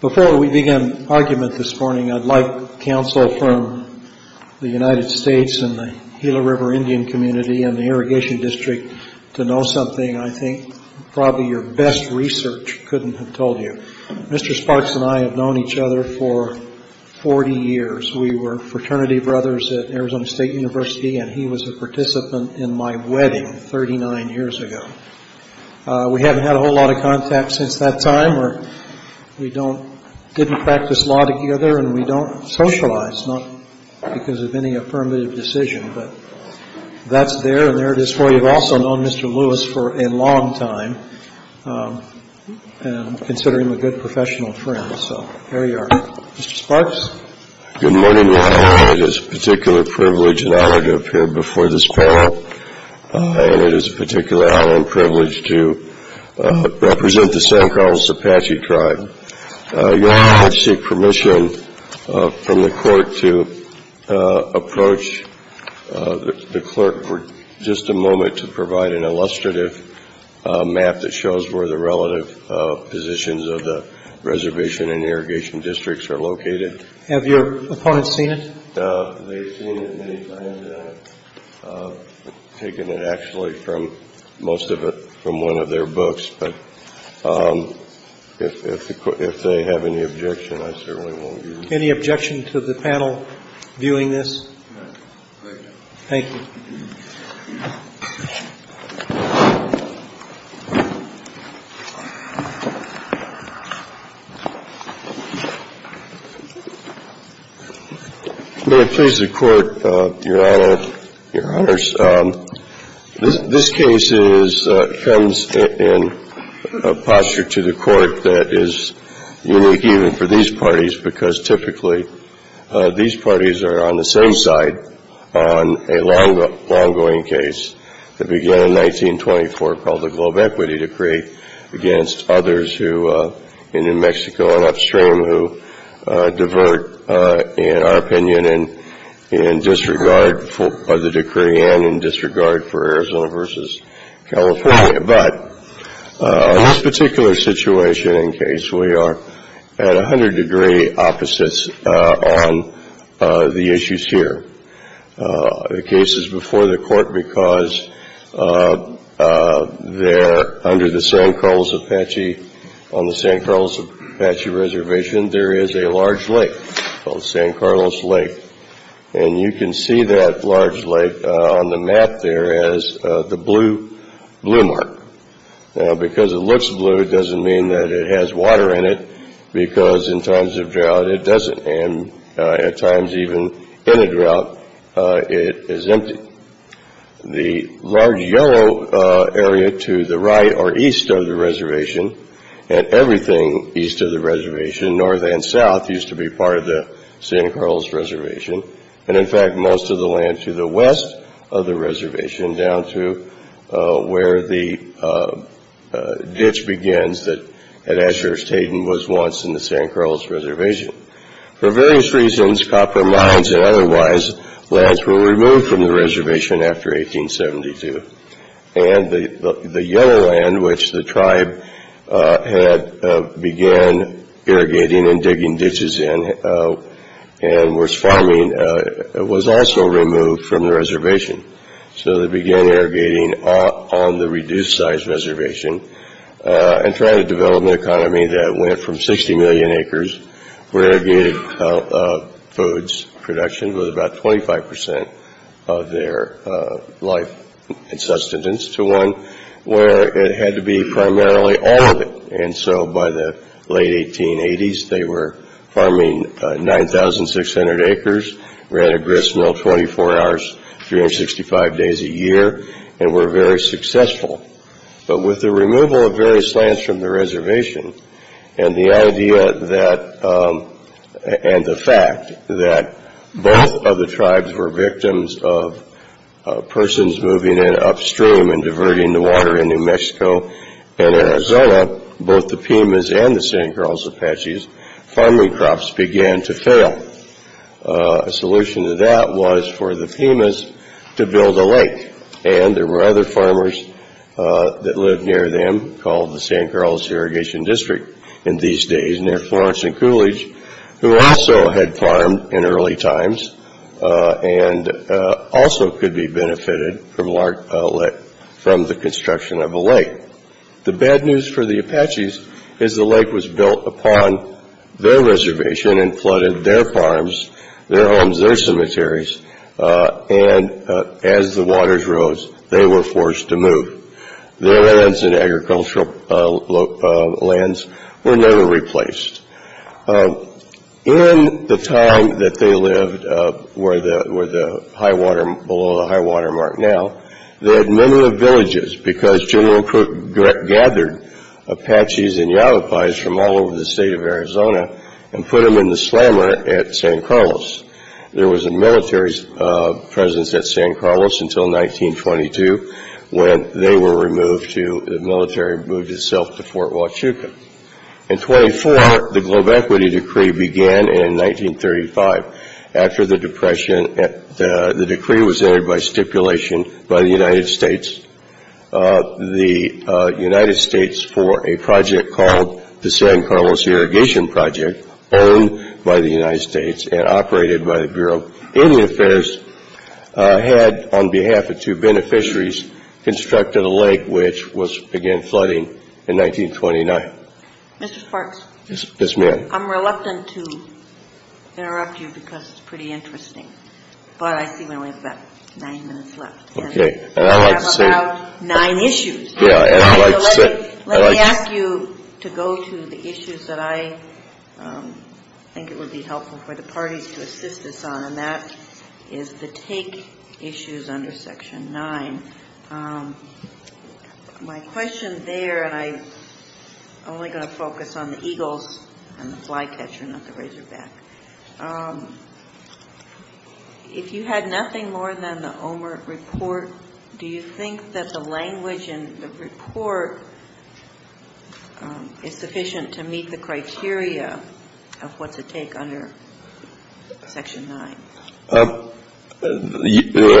Before we begin argument this morning, I'd like counsel from the United States and the Gila River Indian Community and the Irrigation District to know something I think probably your best research couldn't have told you. Mr. Sparks and I have known each other for 40 years. We were fraternity brothers at Arizona State University and he was a participant in my wedding 39 years ago. We haven't had a whole lot of contact since that time. We don't, didn't practice law together and we don't socialize, not because of any affirmative decision, but that's there and there it is for you. I've also known Mr. Lewis for a long time and consider him a good professional friend, so there you are. Mr. Sparks? Good morning, Your Honor. It is a particular privilege and honor to appear before this panel and it is a particular honor and privilege to represent the San Carlos Apache Tribe. Your Honor, I would seek permission from the court to approach the clerk for just a moment to provide an illustrative map that shows where the relative positions of the reservation and irrigation districts are located. Have your opponents seen it? They've seen it many times and taken it actually from, most of it from one of their books, but if they have any objection, I certainly won't use it. Any objection to the panel viewing this? No. Thank you. May it please the court, Your Honor, Your Honors, this case is, comes in a posture to the court that is unique even for these parties because typically these parties are on the same side on a long, long-going case that began in 1924 called the Globe Equity Decree against others who, in New Mexico and upstream, who divert our opinion in disregard for the decree and in disregard for Arizona versus California, but in this particular situation and case, we are at 100 degree opposites on the issues here. The case is before the court because there, under the San Carlos Apache, on the San Carlos Apache Reservation, there is a large lake called San Carlos Lake, and you can see that large lake on the map there as the blue mark. Now, because it looks blue, it doesn't mean that it has water in it, because in times of drought, it doesn't, and at times even in a drought, it is empty. The large yellow area to the right or east of the reservation, and everything east of the reservation, north and south, used to be part of the San Carlos Reservation, and in fact, most of the land to the west of the reservation, down to where the ditch begins at Azures Teton was once in the San Carlos Reservation. For various reasons, copper mines and otherwise, lands were removed from the reservation after 1872, and the yellow mining was also removed from the reservation, so they began irrigating on the reduced-sized reservation and tried to develop an economy that went from 60 million acres for irrigated foods production, with about 25% of their life and sustenance, to one where it had to be primarily all of it, and so by the late 1880s, they were farming 9,600 acres, ran a grist mill 24 hours, 365 days a year, and were very successful, but with the removal of various lands from the reservation, and the idea that, and the fact that both of the in Arizona, both the Pimas and the San Carlos Apaches, farming crops began to fail. A solution to that was for the Pimas to build a lake, and there were other farmers that lived near them called the San Carlos Irrigation District in these days, near Florence and Coolidge, who also had farmed in early times, and also could be benefited from the construction of a lake. The bad news for the Apaches is the lake was built upon their reservation and flooded their farms, their homes, their cemeteries, and as the waters rose, they were forced to move. Their lands and agricultural lands were never replaced. In the time that they lived, where the high water, below the high water mark now, they had many of the villages because General Crook gathered Apaches and Yavapais from all over the state of Arizona and put them in the slammer at San Carlos. There was a military's presence at San Carlos until 1922, when they were removed to, the military moved itself to Fort Huachuca. In 24, the Depression, the decree was entered by stipulation by the United States. The United States, for a project called the San Carlos Irrigation Project, owned by the United States and operated by the Bureau of Indian Affairs, had, on behalf of two beneficiaries, constructed a lake which was, again, flooding in 1929. Ms. Parks. Yes, ma'am. I'm reluctant to interrupt you because it's pretty interesting, but I see we only have about nine minutes left. Okay. And I'd like to say We have about nine issues. Yeah, and I'd like to say Let me ask you to go to the issues that I think it would be helpful for the parties to assist us on, and that is the take issues under Section 9. My question there, and I'm only going to focus on the eagles and the flycatcher, not the razorback. If you had nothing more than the Omer report, do you think that the language in the report is sufficient to meet the criteria of what's at stake under Section 9? The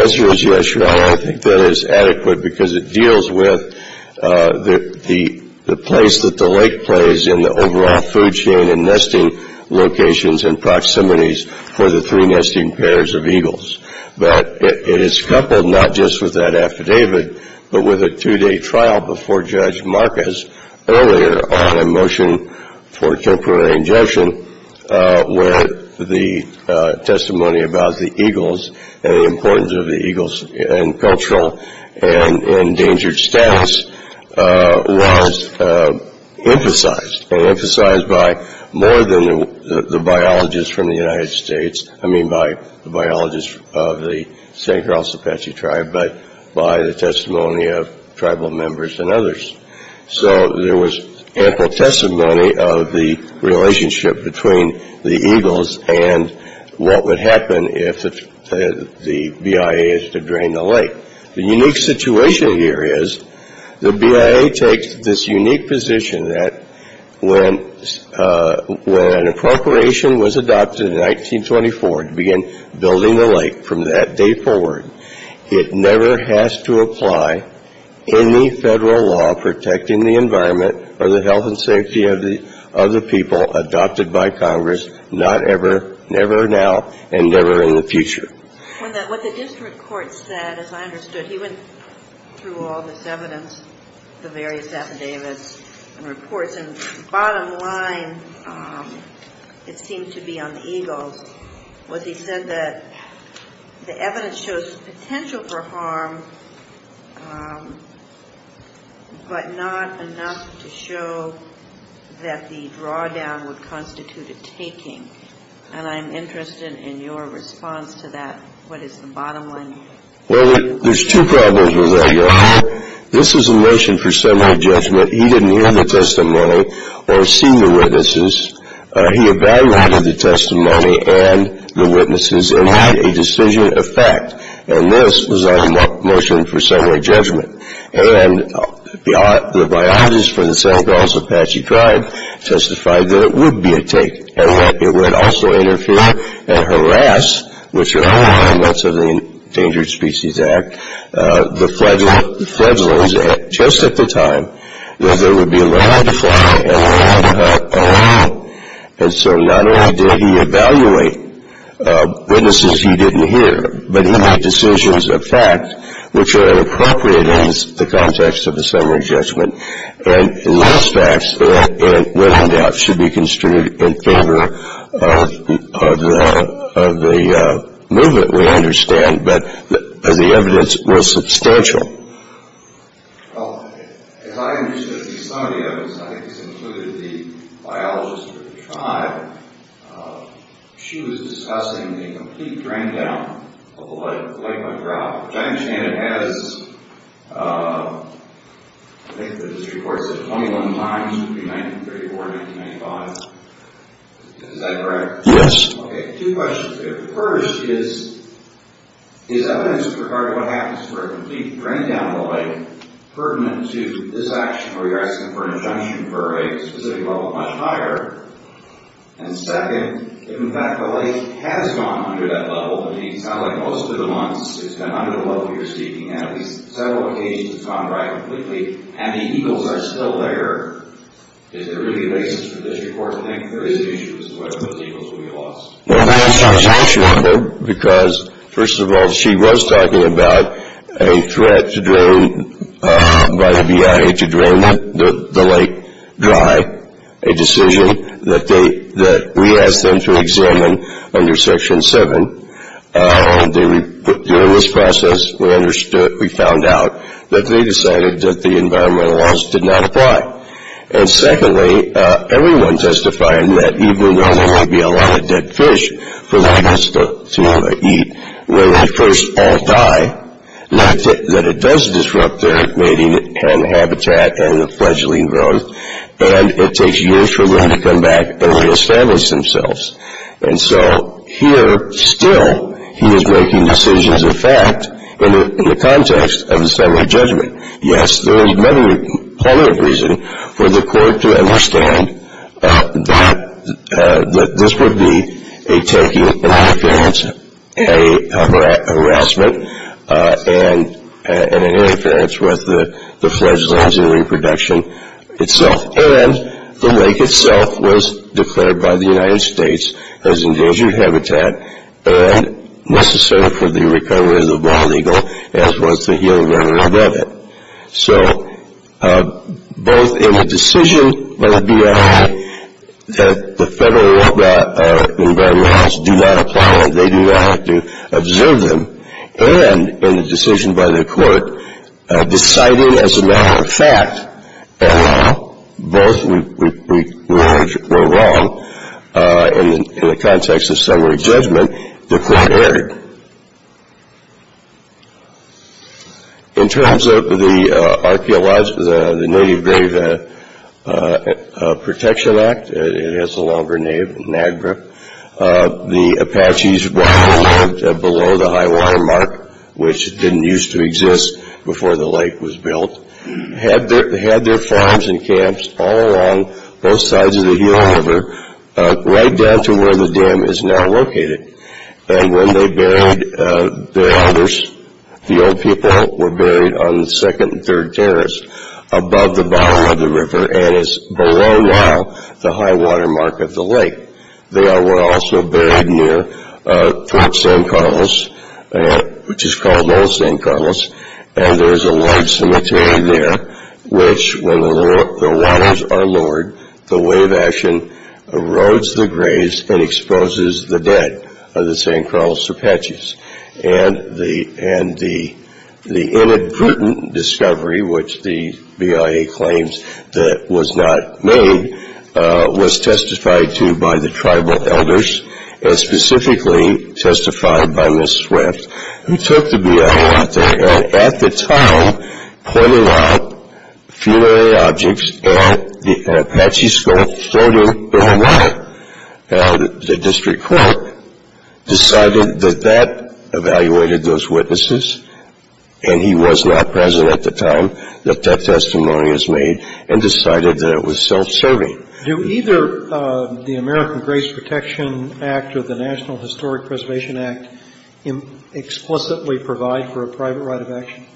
answer is yes, Your Honor. I think that is adequate because it deals with the place that the lake plays in the overall food chain and nesting locations and proximities for the three nesting pairs of eagles. But it is coupled not just with that affidavit, but with a two-day trial before Judge Marcus earlier on a motion for temporary injunction where the testimony about the eagles and the importance of the eagles and cultural and endangered status was emphasized. It was emphasized by more than the biologists from the United States. I mean by the biologists of the St. Charles Apache tribe, but by the testimony of tribal members and others. So there was ample testimony of the relationship between the eagles and what would happen if the BIA is to drain the lake. The unique situation here is the BIA takes this unique position that when an appropriation was adopted in 1924 to begin building the lake from that day forward, it never has to apply any Federal law protecting the environment or the health and safety of the people adopted by Congress, not ever, never now, and never in the future. What the district court said, as I understood, he went through all this evidence, the various affidavits and reports, and the bottom line, it seemed to be on the eagles, was he said that the evidence shows potential for harm, but not enough to show that the drawdown would Well, there's two problems with that, Your Honor. This is a motion for summary judgment. He didn't hear the testimony or see the witnesses. He evaluated the testimony and the witnesses and made a decision of fact, and this was a motion for summary judgment. And the biologists from the St. Charles Apache tribe testified that it would be a take, and that it would also interfere and harass, which are all elements of the Endangered Species Act, the fledglings just at the time, that there would be a lot of fly and a lot of hunt around. And so not only did he evaluate witnesses he didn't hear, but he made decisions of fact which are inappropriate in the context of the summary judgment. And the last facts should be construed in favor of the movement, we understand, but the evidence was substantial. Well, as I understood some of the evidence, and I think this included the biologists from the tribe, she was discussing the complete drain down of the Lake McGraw, which I understand has, I think the district court said 21 times between 1934 and 1995. Is that correct? Yes. Okay, two questions here. First is, is evidence regarding what happens to a complete drain down of the lake pertinent to this action where you're asking for an injunction for a specific level much higher? And second, if in fact the lake has gone under that level, and it's not like most of the months, it's been under the level you're speaking at, at least several occasions it's gone dry completely, and the eagles are still there, is there really a basis for the district court to think there is an issue as to whether those eagles will be lost? Well, that's not an issue either, because first of all, she was talking about a threat to drain by the BIA to drain the lake dry, a decision that we asked them to examine under Section 7. During this process, we found out that they decided that the environmental laws did not apply. And secondly, everyone testified that even though there might be a lot of dead fish for the eagles to eat, when they first all die, not that it does disrupt their mating and habitat and fledgling growth, and it takes years for them to come back and raise families themselves. And so here, still, he is making decisions of fact in the context of the federal judgment. Yes, there is many other reasons for the court to understand that this would be a taking, an interference, a harassment, and an interference with the fledgling's reproduction itself. And the lake itself was declared by the United States as endangered habitat and necessary for the recovery of the wild eagle, as was the healing water above it. So, both in the decision by the BIA that the federal environmental laws do not apply and they do not have to observe them, and in the decision by the court deciding as a matter of fact that both were wrong in the context of summary judgment, the court erred. In terms of the Native Grave Protection Act, it is a longer name, NAGPRA, the Apaches, while they lived below the high water mark, which didn't used to exist before the lake was built, had their farms and camps all along both sides of the healing river, right down to where the dam is now located. And when they buried their elders, the old people were buried on the second and third terrace above the bow of the river and is below now the high water mark of the lake. They were also buried near Fort San Carlos, which is called Old San Carlos, and there's a large cemetery there, which when the waters are lowered, the wave action erodes the graves and exposes the dead of the San Carlos Apaches. And the inadvertent discovery, which the BIA claims that was not made, was testified to by the tribal elders, and specifically testified by Ms. Swift, who took the BIA out there and at the time pointed out funerary objects at an Apache school floating below water. And the district court decided that that evaluated those witnesses, and he was not present at the time that that testimony was made, and decided that it was self-serving. Do either the American Graves Protection Act or the National Historic Preservation Act explicitly provide for a private right of action?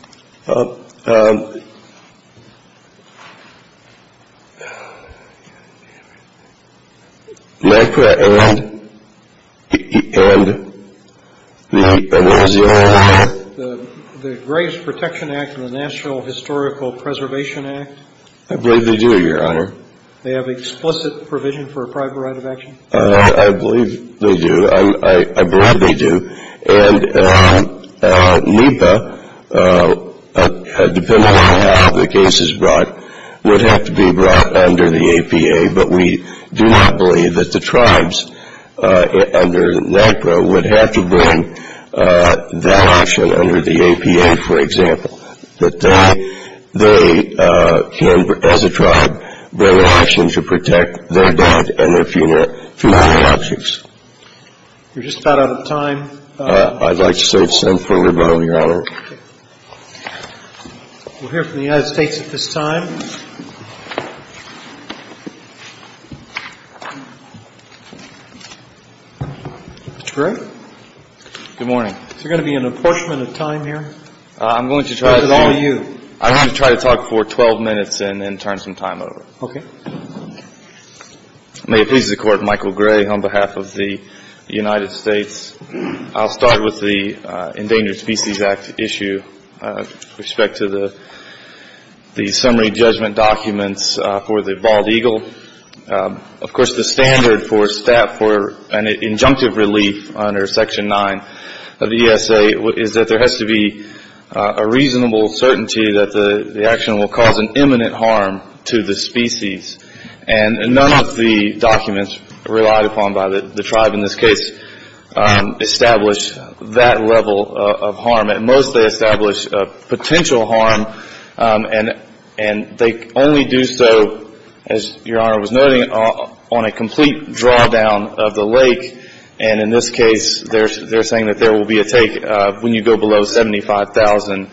The Graves Protection Act and the National Historical Preservation Act? I believe they do, Your Honor. They have explicit provision for a private right of action? I believe they do. I'm glad they do. And NEPA, depending on how the case is brought, would have to be brought under the APA, but we do not believe that the tribes under NEPA would have to bring that option under the APA, for example. But they can, as a tribe, bring an option to protect their dad and their funerary objects. We're just about out of time. I'd like to say it's time for a rebuttal, Your Honor. Okay. We'll hear from the United States at this time. Mr. Perry? Good morning. Is there going to be an apportionment of time here? I'm going to try to talk for 12 minutes and then turn some time over. Okay. May it please the Court, Michael Gray on behalf of the United States. I'll start with the Endangered Species Act issue with respect to the summary judgment documents for the bald eagle. Of course, the standard for an injunctive relief under Section 9 of the ESA is that there has to be a reasonable certainty that the action will cause an imminent harm to the species. And none of the documents relied upon by the tribe in this case establish that level of harm. At most, they establish a potential harm, and they only do so, as Your Honor was noting, on a complete drawdown of the lake. And in this case, they're saying that there will be a take when you go below 75,000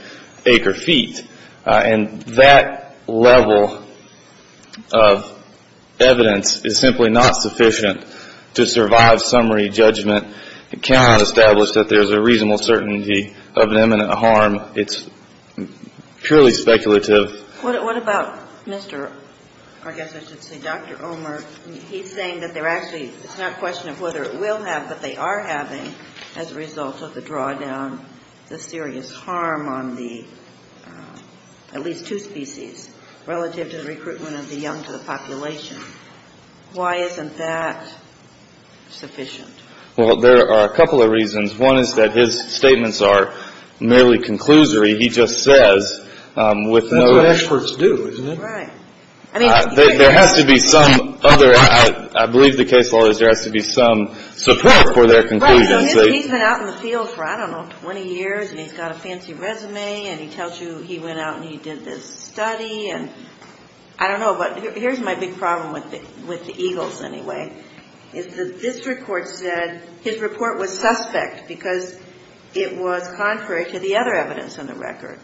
acre feet. And that level of evidence is simply not sufficient to survive summary judgment. It cannot establish that there's a reasonable certainty of an imminent harm. It's purely speculative. What about Mr. – I guess I should say Dr. Omer. He's saying that they're actually – it's not a question of whether it will have, but they are having as a result of the drawdown, the serious harm on the – at least two species relative to the recruitment of the young to the population. Why isn't that sufficient? Well, there are a couple of reasons. One is that his statements are merely conclusory. He just says with no – That's what experts do, isn't it? Right. I mean – There has to be some other – I believe the case law is there has to be some support for their conclusions. Right, so he's been out in the field for, I don't know, 20 years, and he's got a fancy resume, and he tells you he went out and he did this study, and I don't know. Here's my big problem with the Eagles, anyway, is that this report said his report was suspect because it was contrary to the other evidence in the record.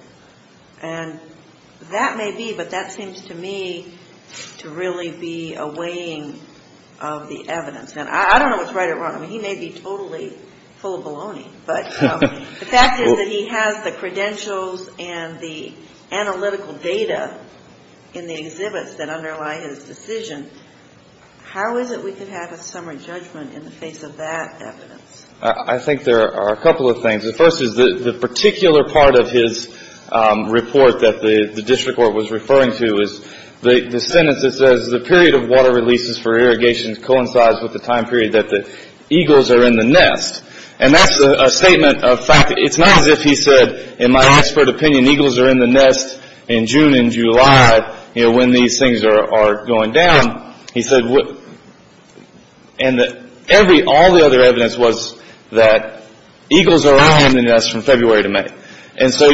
And that may be, but that seems to me to really be a weighing of the evidence. And I don't know what's right or wrong. I mean, he may be totally full of baloney, but the fact is that he has the credentials and the analytical data in the exhibits that underlie his decision. How is it we could have a summary judgment in the face of that evidence? I think there are a couple of things. The first is the particular part of his report that the district court was referring to is the sentence that says, the period of water releases for irrigation coincides with the time period that the Eagles are in the nest. And that's a statement of fact. It's not as if he said, in my expert opinion, Eagles are in the nest in June and July, you know, when these things are going down. He said, and all the other evidence was that Eagles are now in the nest from February to May. And so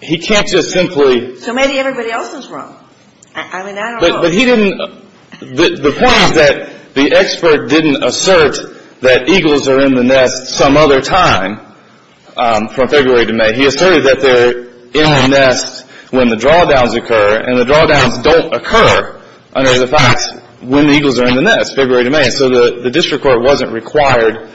he can't just simply. So maybe everybody else is wrong. I mean, I don't know. But he didn't. The point is that the expert didn't assert that Eagles are in the nest some other time from February to May. He asserted that they're in the nest when the drawdowns occur. And the drawdowns don't occur under the facts when the Eagles are in the nest, February to May. And so the district court wasn't required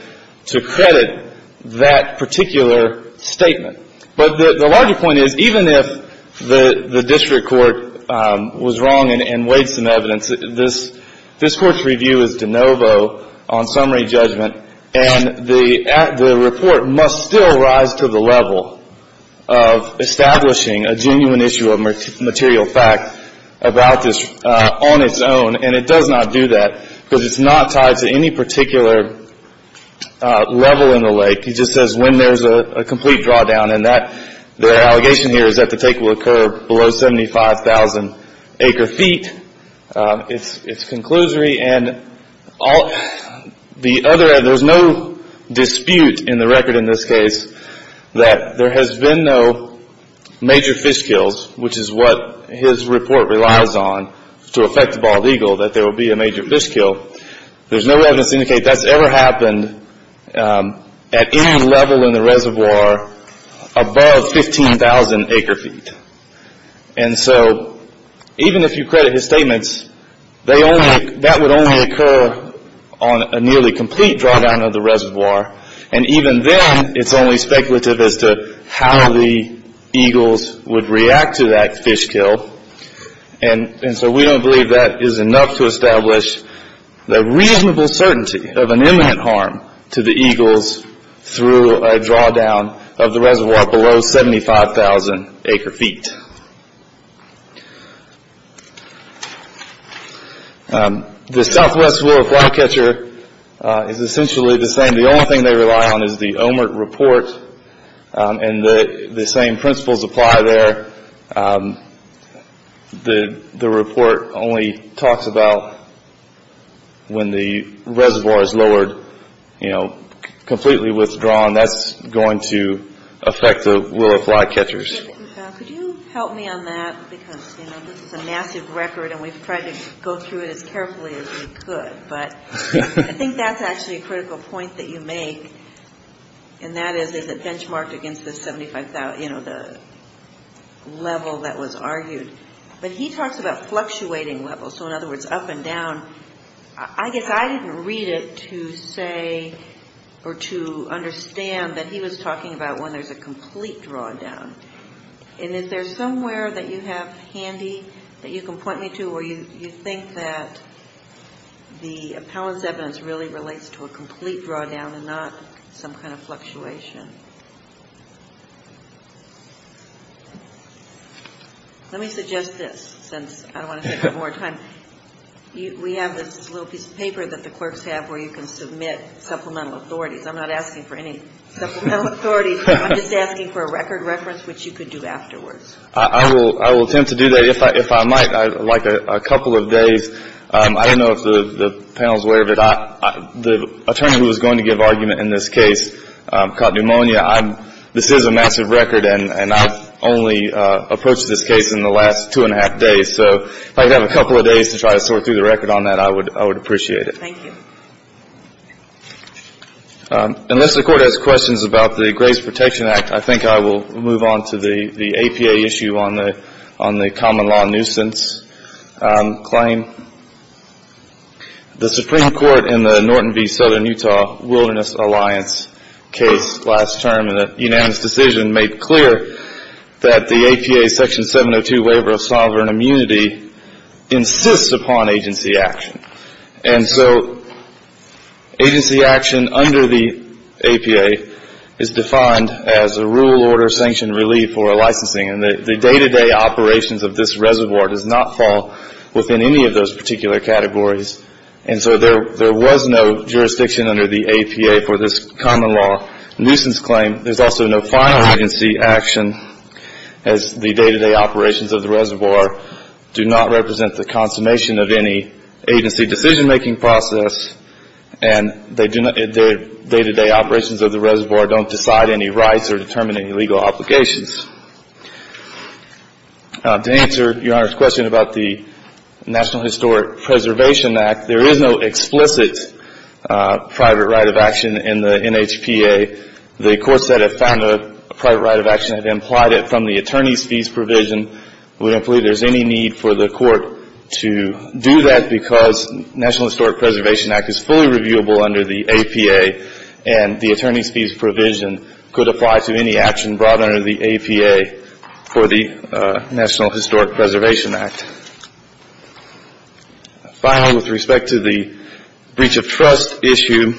to credit that particular statement. But the larger point is, even if the district court was wrong and weighed some evidence, this court's review is de novo on summary judgment. And the report must still rise to the level of establishing a genuine issue of material fact about this on its own. And it does not do that because it's not tied to any particular level in the lake. It just says when there's a complete drawdown. And their allegation here is that the take will occur below 75,000 acre feet. It's conclusory. And there's no dispute in the record in this case that there has been no major fish kills, which is what his report relies on to affect the bald eagle, that there will be a major fish kill. There's no evidence to indicate that's ever happened at any level in the reservoir above 15,000 acre feet. And so even if you credit his statements, that would only occur on a nearly complete drawdown of the reservoir. And even then, it's only speculative as to how the eagles would react to that fish kill. And so we don't believe that is enough to establish the reasonable certainty of an imminent harm to the eagles through a drawdown of the reservoir below 75,000 acre feet. The Southwest rule of flycatcher is essentially the same. The only thing they rely on is the OMERT report. And the same principles apply there. The report only talks about when the reservoir is lowered, you know, completely withdrawn. That's going to affect the rule of flycatchers. Could you help me on that? Because, you know, this is a massive record, and we've tried to go through it as carefully as we could. But I think that's actually a critical point that you make, and that is, is it benchmarked against the 75,000, you know, the level that was argued. But he talks about fluctuating levels, so in other words, up and down. I guess I didn't read it to say or to understand that he was talking about when there's a complete drawdown. And is there somewhere that you have handy that you can point me to where you think that the appellant's evidence really relates to a complete drawdown and not some kind of fluctuation? Let me suggest this, since I don't want to take up more time. We have this little piece of paper that the clerks have where you can submit supplemental authorities. I'm not asking for any supplemental authorities. I'm just asking for a record reference, which you could do afterwards. I will attempt to do that. If I might, I'd like a couple of days. I don't know if the panel is aware of it. The attorney who was going to give argument in this case caught pneumonia. This is a massive record, and I've only approached this case in the last two and a half days. So if I could have a couple of days to try to sort through the record on that, I would appreciate it. Thank you. Unless the Court has questions about the Graves Protection Act, I think I will move on to the APA issue on the common law nuisance claim. The Supreme Court in the Norton v. Southern Utah Wilderness Alliance case last term in a unanimous decision made clear that the APA Section 702 waiver of sovereign immunity insists upon agency action. And so agency action under the APA is defined as a rule, order, sanction, relief, or a licensing. And the day-to-day operations of this reservoir does not fall within any of those particular categories. And so there was no jurisdiction under the APA for this common law nuisance claim. There's also no final agency action, as the day-to-day operations of the reservoir do not represent the consummation of any agency decision-making process, and the day-to-day operations of the reservoir don't decide any rights or determine any legal obligations. To answer Your Honor's question about the National Historic Preservation Act, there is no explicit private right of action in the NHPA. The courts that have found a private right of action have implied it from the attorney's fees provision. We don't believe there's any need for the court to do that because the National Historic Preservation Act is fully reviewable under the APA, and the attorney's fees provision could apply to any action brought under the APA for the National Historic Preservation Act. Finally, with respect to the breach of trust issue,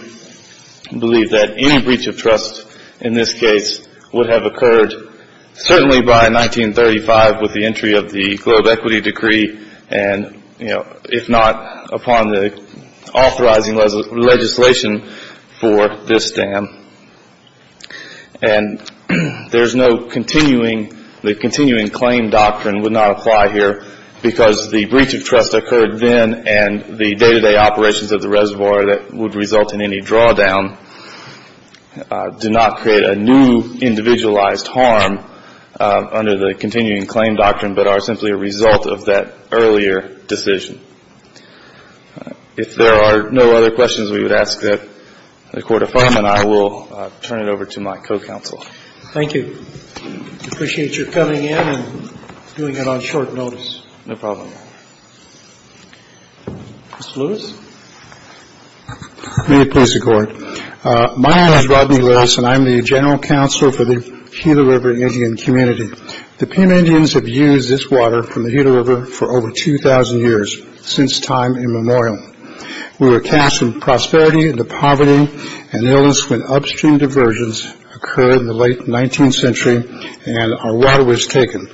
we believe that any breach of trust in this case would have occurred certainly by 1935, with the entry of the Globe Equity Decree, and, you know, if not, upon the authorizing legislation for this dam. And there's no continuing, the continuing claim doctrine would not apply here because the breach of trust occurred then, and the day-to-day operations of the reservoir that would result in any drawdown did not create a new individualized harm under the continuing claim doctrine, but are simply a result of that earlier decision. If there are no other questions, we would ask that the Court of Fraud and I will turn it over to my co-counsel. Thank you. I appreciate your coming in and doing it on short notice. No problem. Mr. Lewis. May it please the Court. My name is Rodney Lewis, and I'm the General Counsel for the Gila River Indian Community. The Pima Indians have used this water from the Gila River for over 2,000 years, since time immemorial. We were cast in prosperity into poverty and illness when upstream diversions occurred in the late 19th century, and our water was taken.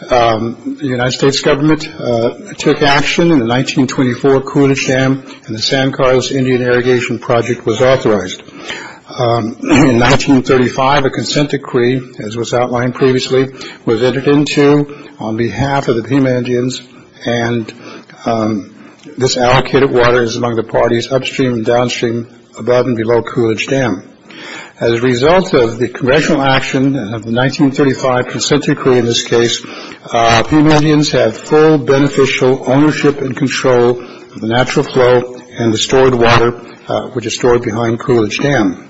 The United States government took action in the 1924 Coolidge Dam, and the San Carlos Indian Irrigation Project was authorized. In 1935, a consent decree, as was outlined previously, was entered into on behalf of the Pima Indians, and this allocated water is among the parties upstream and downstream, above and below Coolidge Dam. As a result of the congressional action of the 1935 consent decree in this case, Pima Indians have full beneficial ownership and control of the natural flow and the stored water, which is stored behind Coolidge Dam.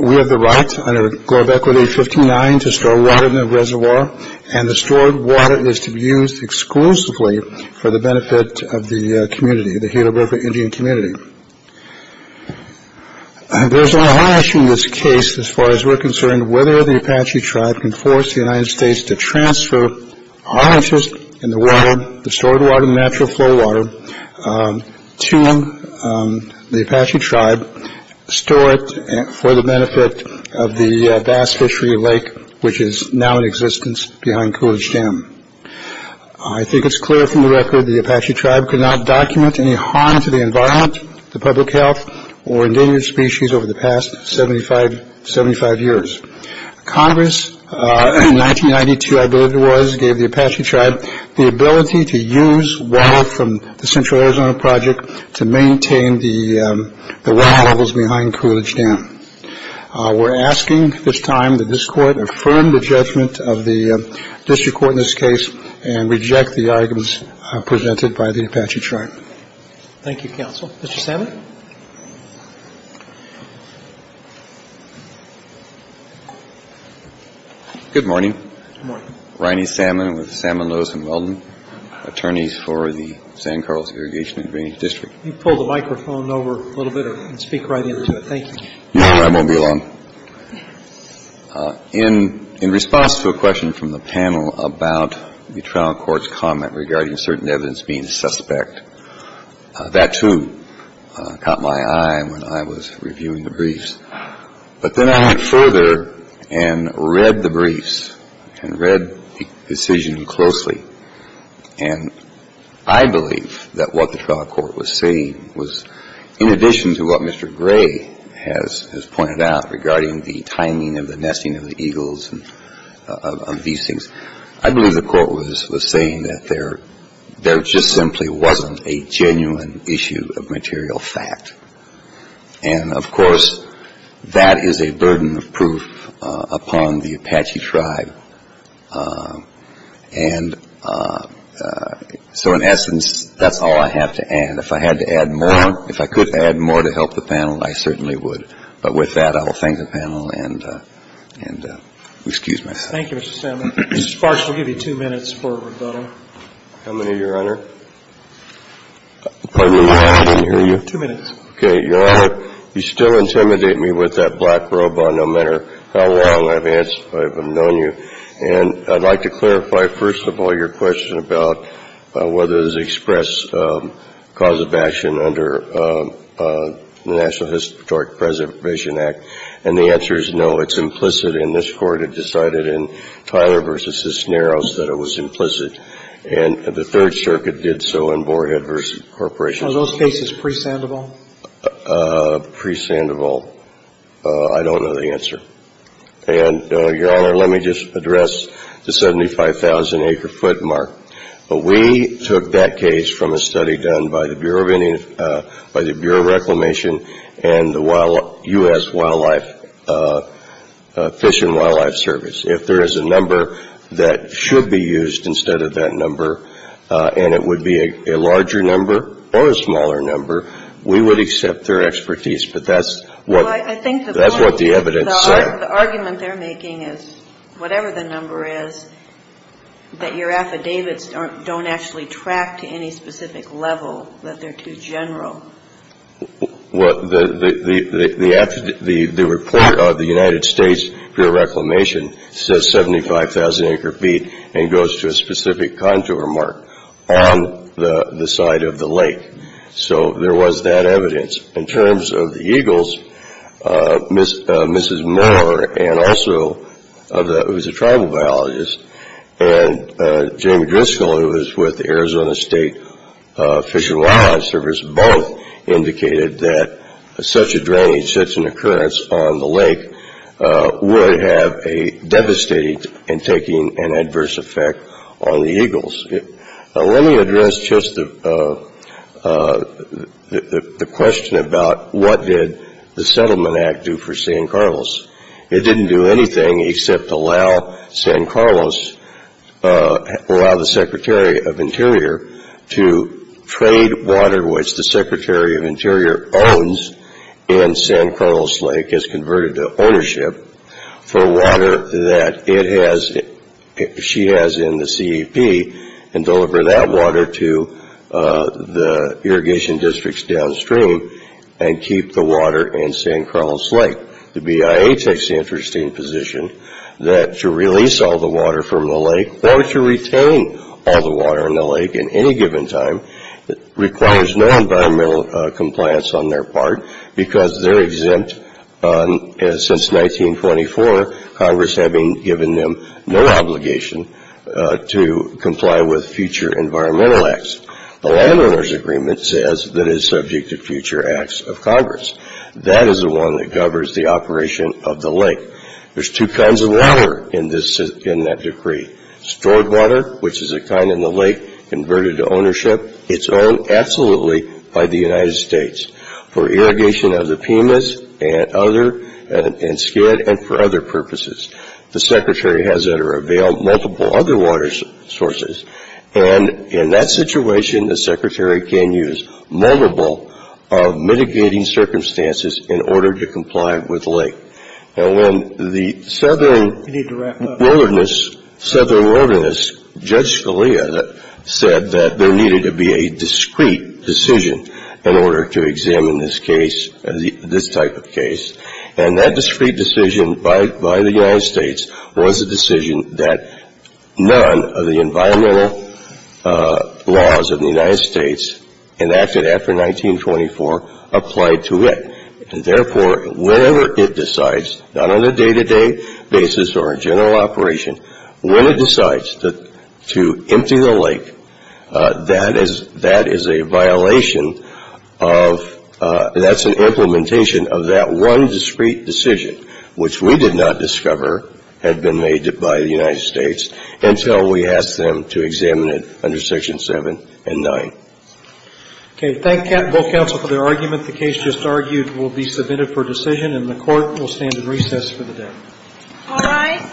We have the right, under Globe Equity 59, to store water in the reservoir, and the stored water is to be used exclusively for the benefit of the community, the Gila River Indian Community. There's a high issue in this case as far as we're concerned, whether the Apache tribe can force the United States to transfer our interest in the world, the stored water and natural flow water, to the Apache tribe, store it for the benefit of the bass fishery lake, which is now in existence behind Coolidge Dam. I think it's clear from the record the Apache tribe could not document any harm to the environment, the public health, or endangered species over the past 75 years. Congress, in 1992 I believe it was, gave the Apache tribe the ability to use water from the Central Arizona Project to maintain the water levels behind Coolidge Dam. We're asking this time that this court affirm the judgment of the district court in this case and reject the arguments presented by the Apache tribe. Thank you, counsel. Mr. Salmon. Good morning. Good morning. Reiney Salmon with Salmon, Lewis & Weldon, attorneys for the San Carlos Irrigation and Drainage District. Can you pull the microphone over a little bit and speak right into it? Thank you. No, I won't be long. In response to a question from the panel about the trial court's comment regarding certain evidence being suspect, that, too, caught my eye when I was reviewing the briefs. But then I went further and read the briefs and read the decision closely. And I believe that what the trial court was saying was, in addition to what Mr. Gray has pointed out regarding the timing of the nesting of the eagles and of these things, I believe the court was saying that there just simply wasn't a genuine issue of material fact. And, of course, that is a burden of proof upon the Apache tribe. And so, in essence, that's all I have to add. If I had to add more, if I could add more to help the panel, I certainly would. But with that, I will thank the panel and excuse myself. Thank you, Mr. Salmon. Mr. Sparks, we'll give you two minutes for rebuttal. How many, Your Honor? Pardon me, Your Honor. I didn't hear you. Two minutes. Okay. Your Honor, you still intimidate me with that black robe on, no matter how long I've answered, if I've known you. And I'd like to clarify, first of all, your question about whether there's express cause of action under the National Historic Preservation Act. And the answer is no. It's implicit. And this Court had decided in Tyler v. Cisneros that it was implicit. And the Third Circuit did so in Borehead v. Corporation. Are those cases pre-Sandoval? Pre-Sandoval. I don't know the answer. And, Your Honor, let me just address the 75,000-acre-foot mark. We took that case from a study done by the Bureau of Reclamation and the U.S. Wildlife, Fish and Wildlife Service. If there is a number that should be used instead of that number and it would be a larger number or a smaller number, we would accept their expertise. But that's what the evidence said. The argument they're making is, whatever the number is, that your affidavits don't actually track to any specific level, that they're too general. The report of the United States Bureau of Reclamation says 75,000-acre-feet and goes to a specific contour mark on the side of the lake. So there was that evidence. In terms of the eagles, Mrs. Moore, who was a tribal biologist, and Jamie Driscoll, who indicated that such a drainage, such an occurrence on the lake, would have a devastating and taking an adverse effect on the eagles. Let me address just the question about what did the Settlement Act do for San Carlos. It didn't do anything except allow San Carlos, allow the Secretary of Interior, to trade water which the Secretary of Interior owns in San Carlos Lake as converted to ownership for water that she has in the CEP and deliver that water to the irrigation districts downstream and keep the water in San Carlos Lake. The BIA takes the interesting position that to release all the water from the lake or to retain all the water in the lake at any given time requires no environmental compliance on their part because they're exempt since 1924, Congress having given them no obligation to comply with future environmental acts. The Landowners Agreement says that it's subject to future acts of Congress. That is the one that governs the operation of the lake. There's two kinds of water in that decree. Stored water, which is a kind in the lake converted to ownership. It's owned absolutely by the United States for irrigation of the Pimas and Skid and for other purposes. The Secretary has that or avail multiple other water sources and in that situation, the Secretary can use multiple mitigating circumstances in order to comply with the lake. And when the Southern Wilderness Judge Scalia said that there needed to be a discreet decision in order to examine this case, this type of case, and that discreet decision by the United States was a decision that none of the environmental laws of the United States enacted after 1924 applied to it. And therefore, whenever it decides, not on a day-to-day basis or a general operation, when it decides to empty the lake, that is a violation of that's an implementation of that one discreet decision, which we did not discover had been made by the United States until we asked them to examine it under Section 7 and 9. Okay. Thank you both counsel for their argument. The case just argued will be submitted for decision and the court will stand in recess for the day. All rise. Thank you.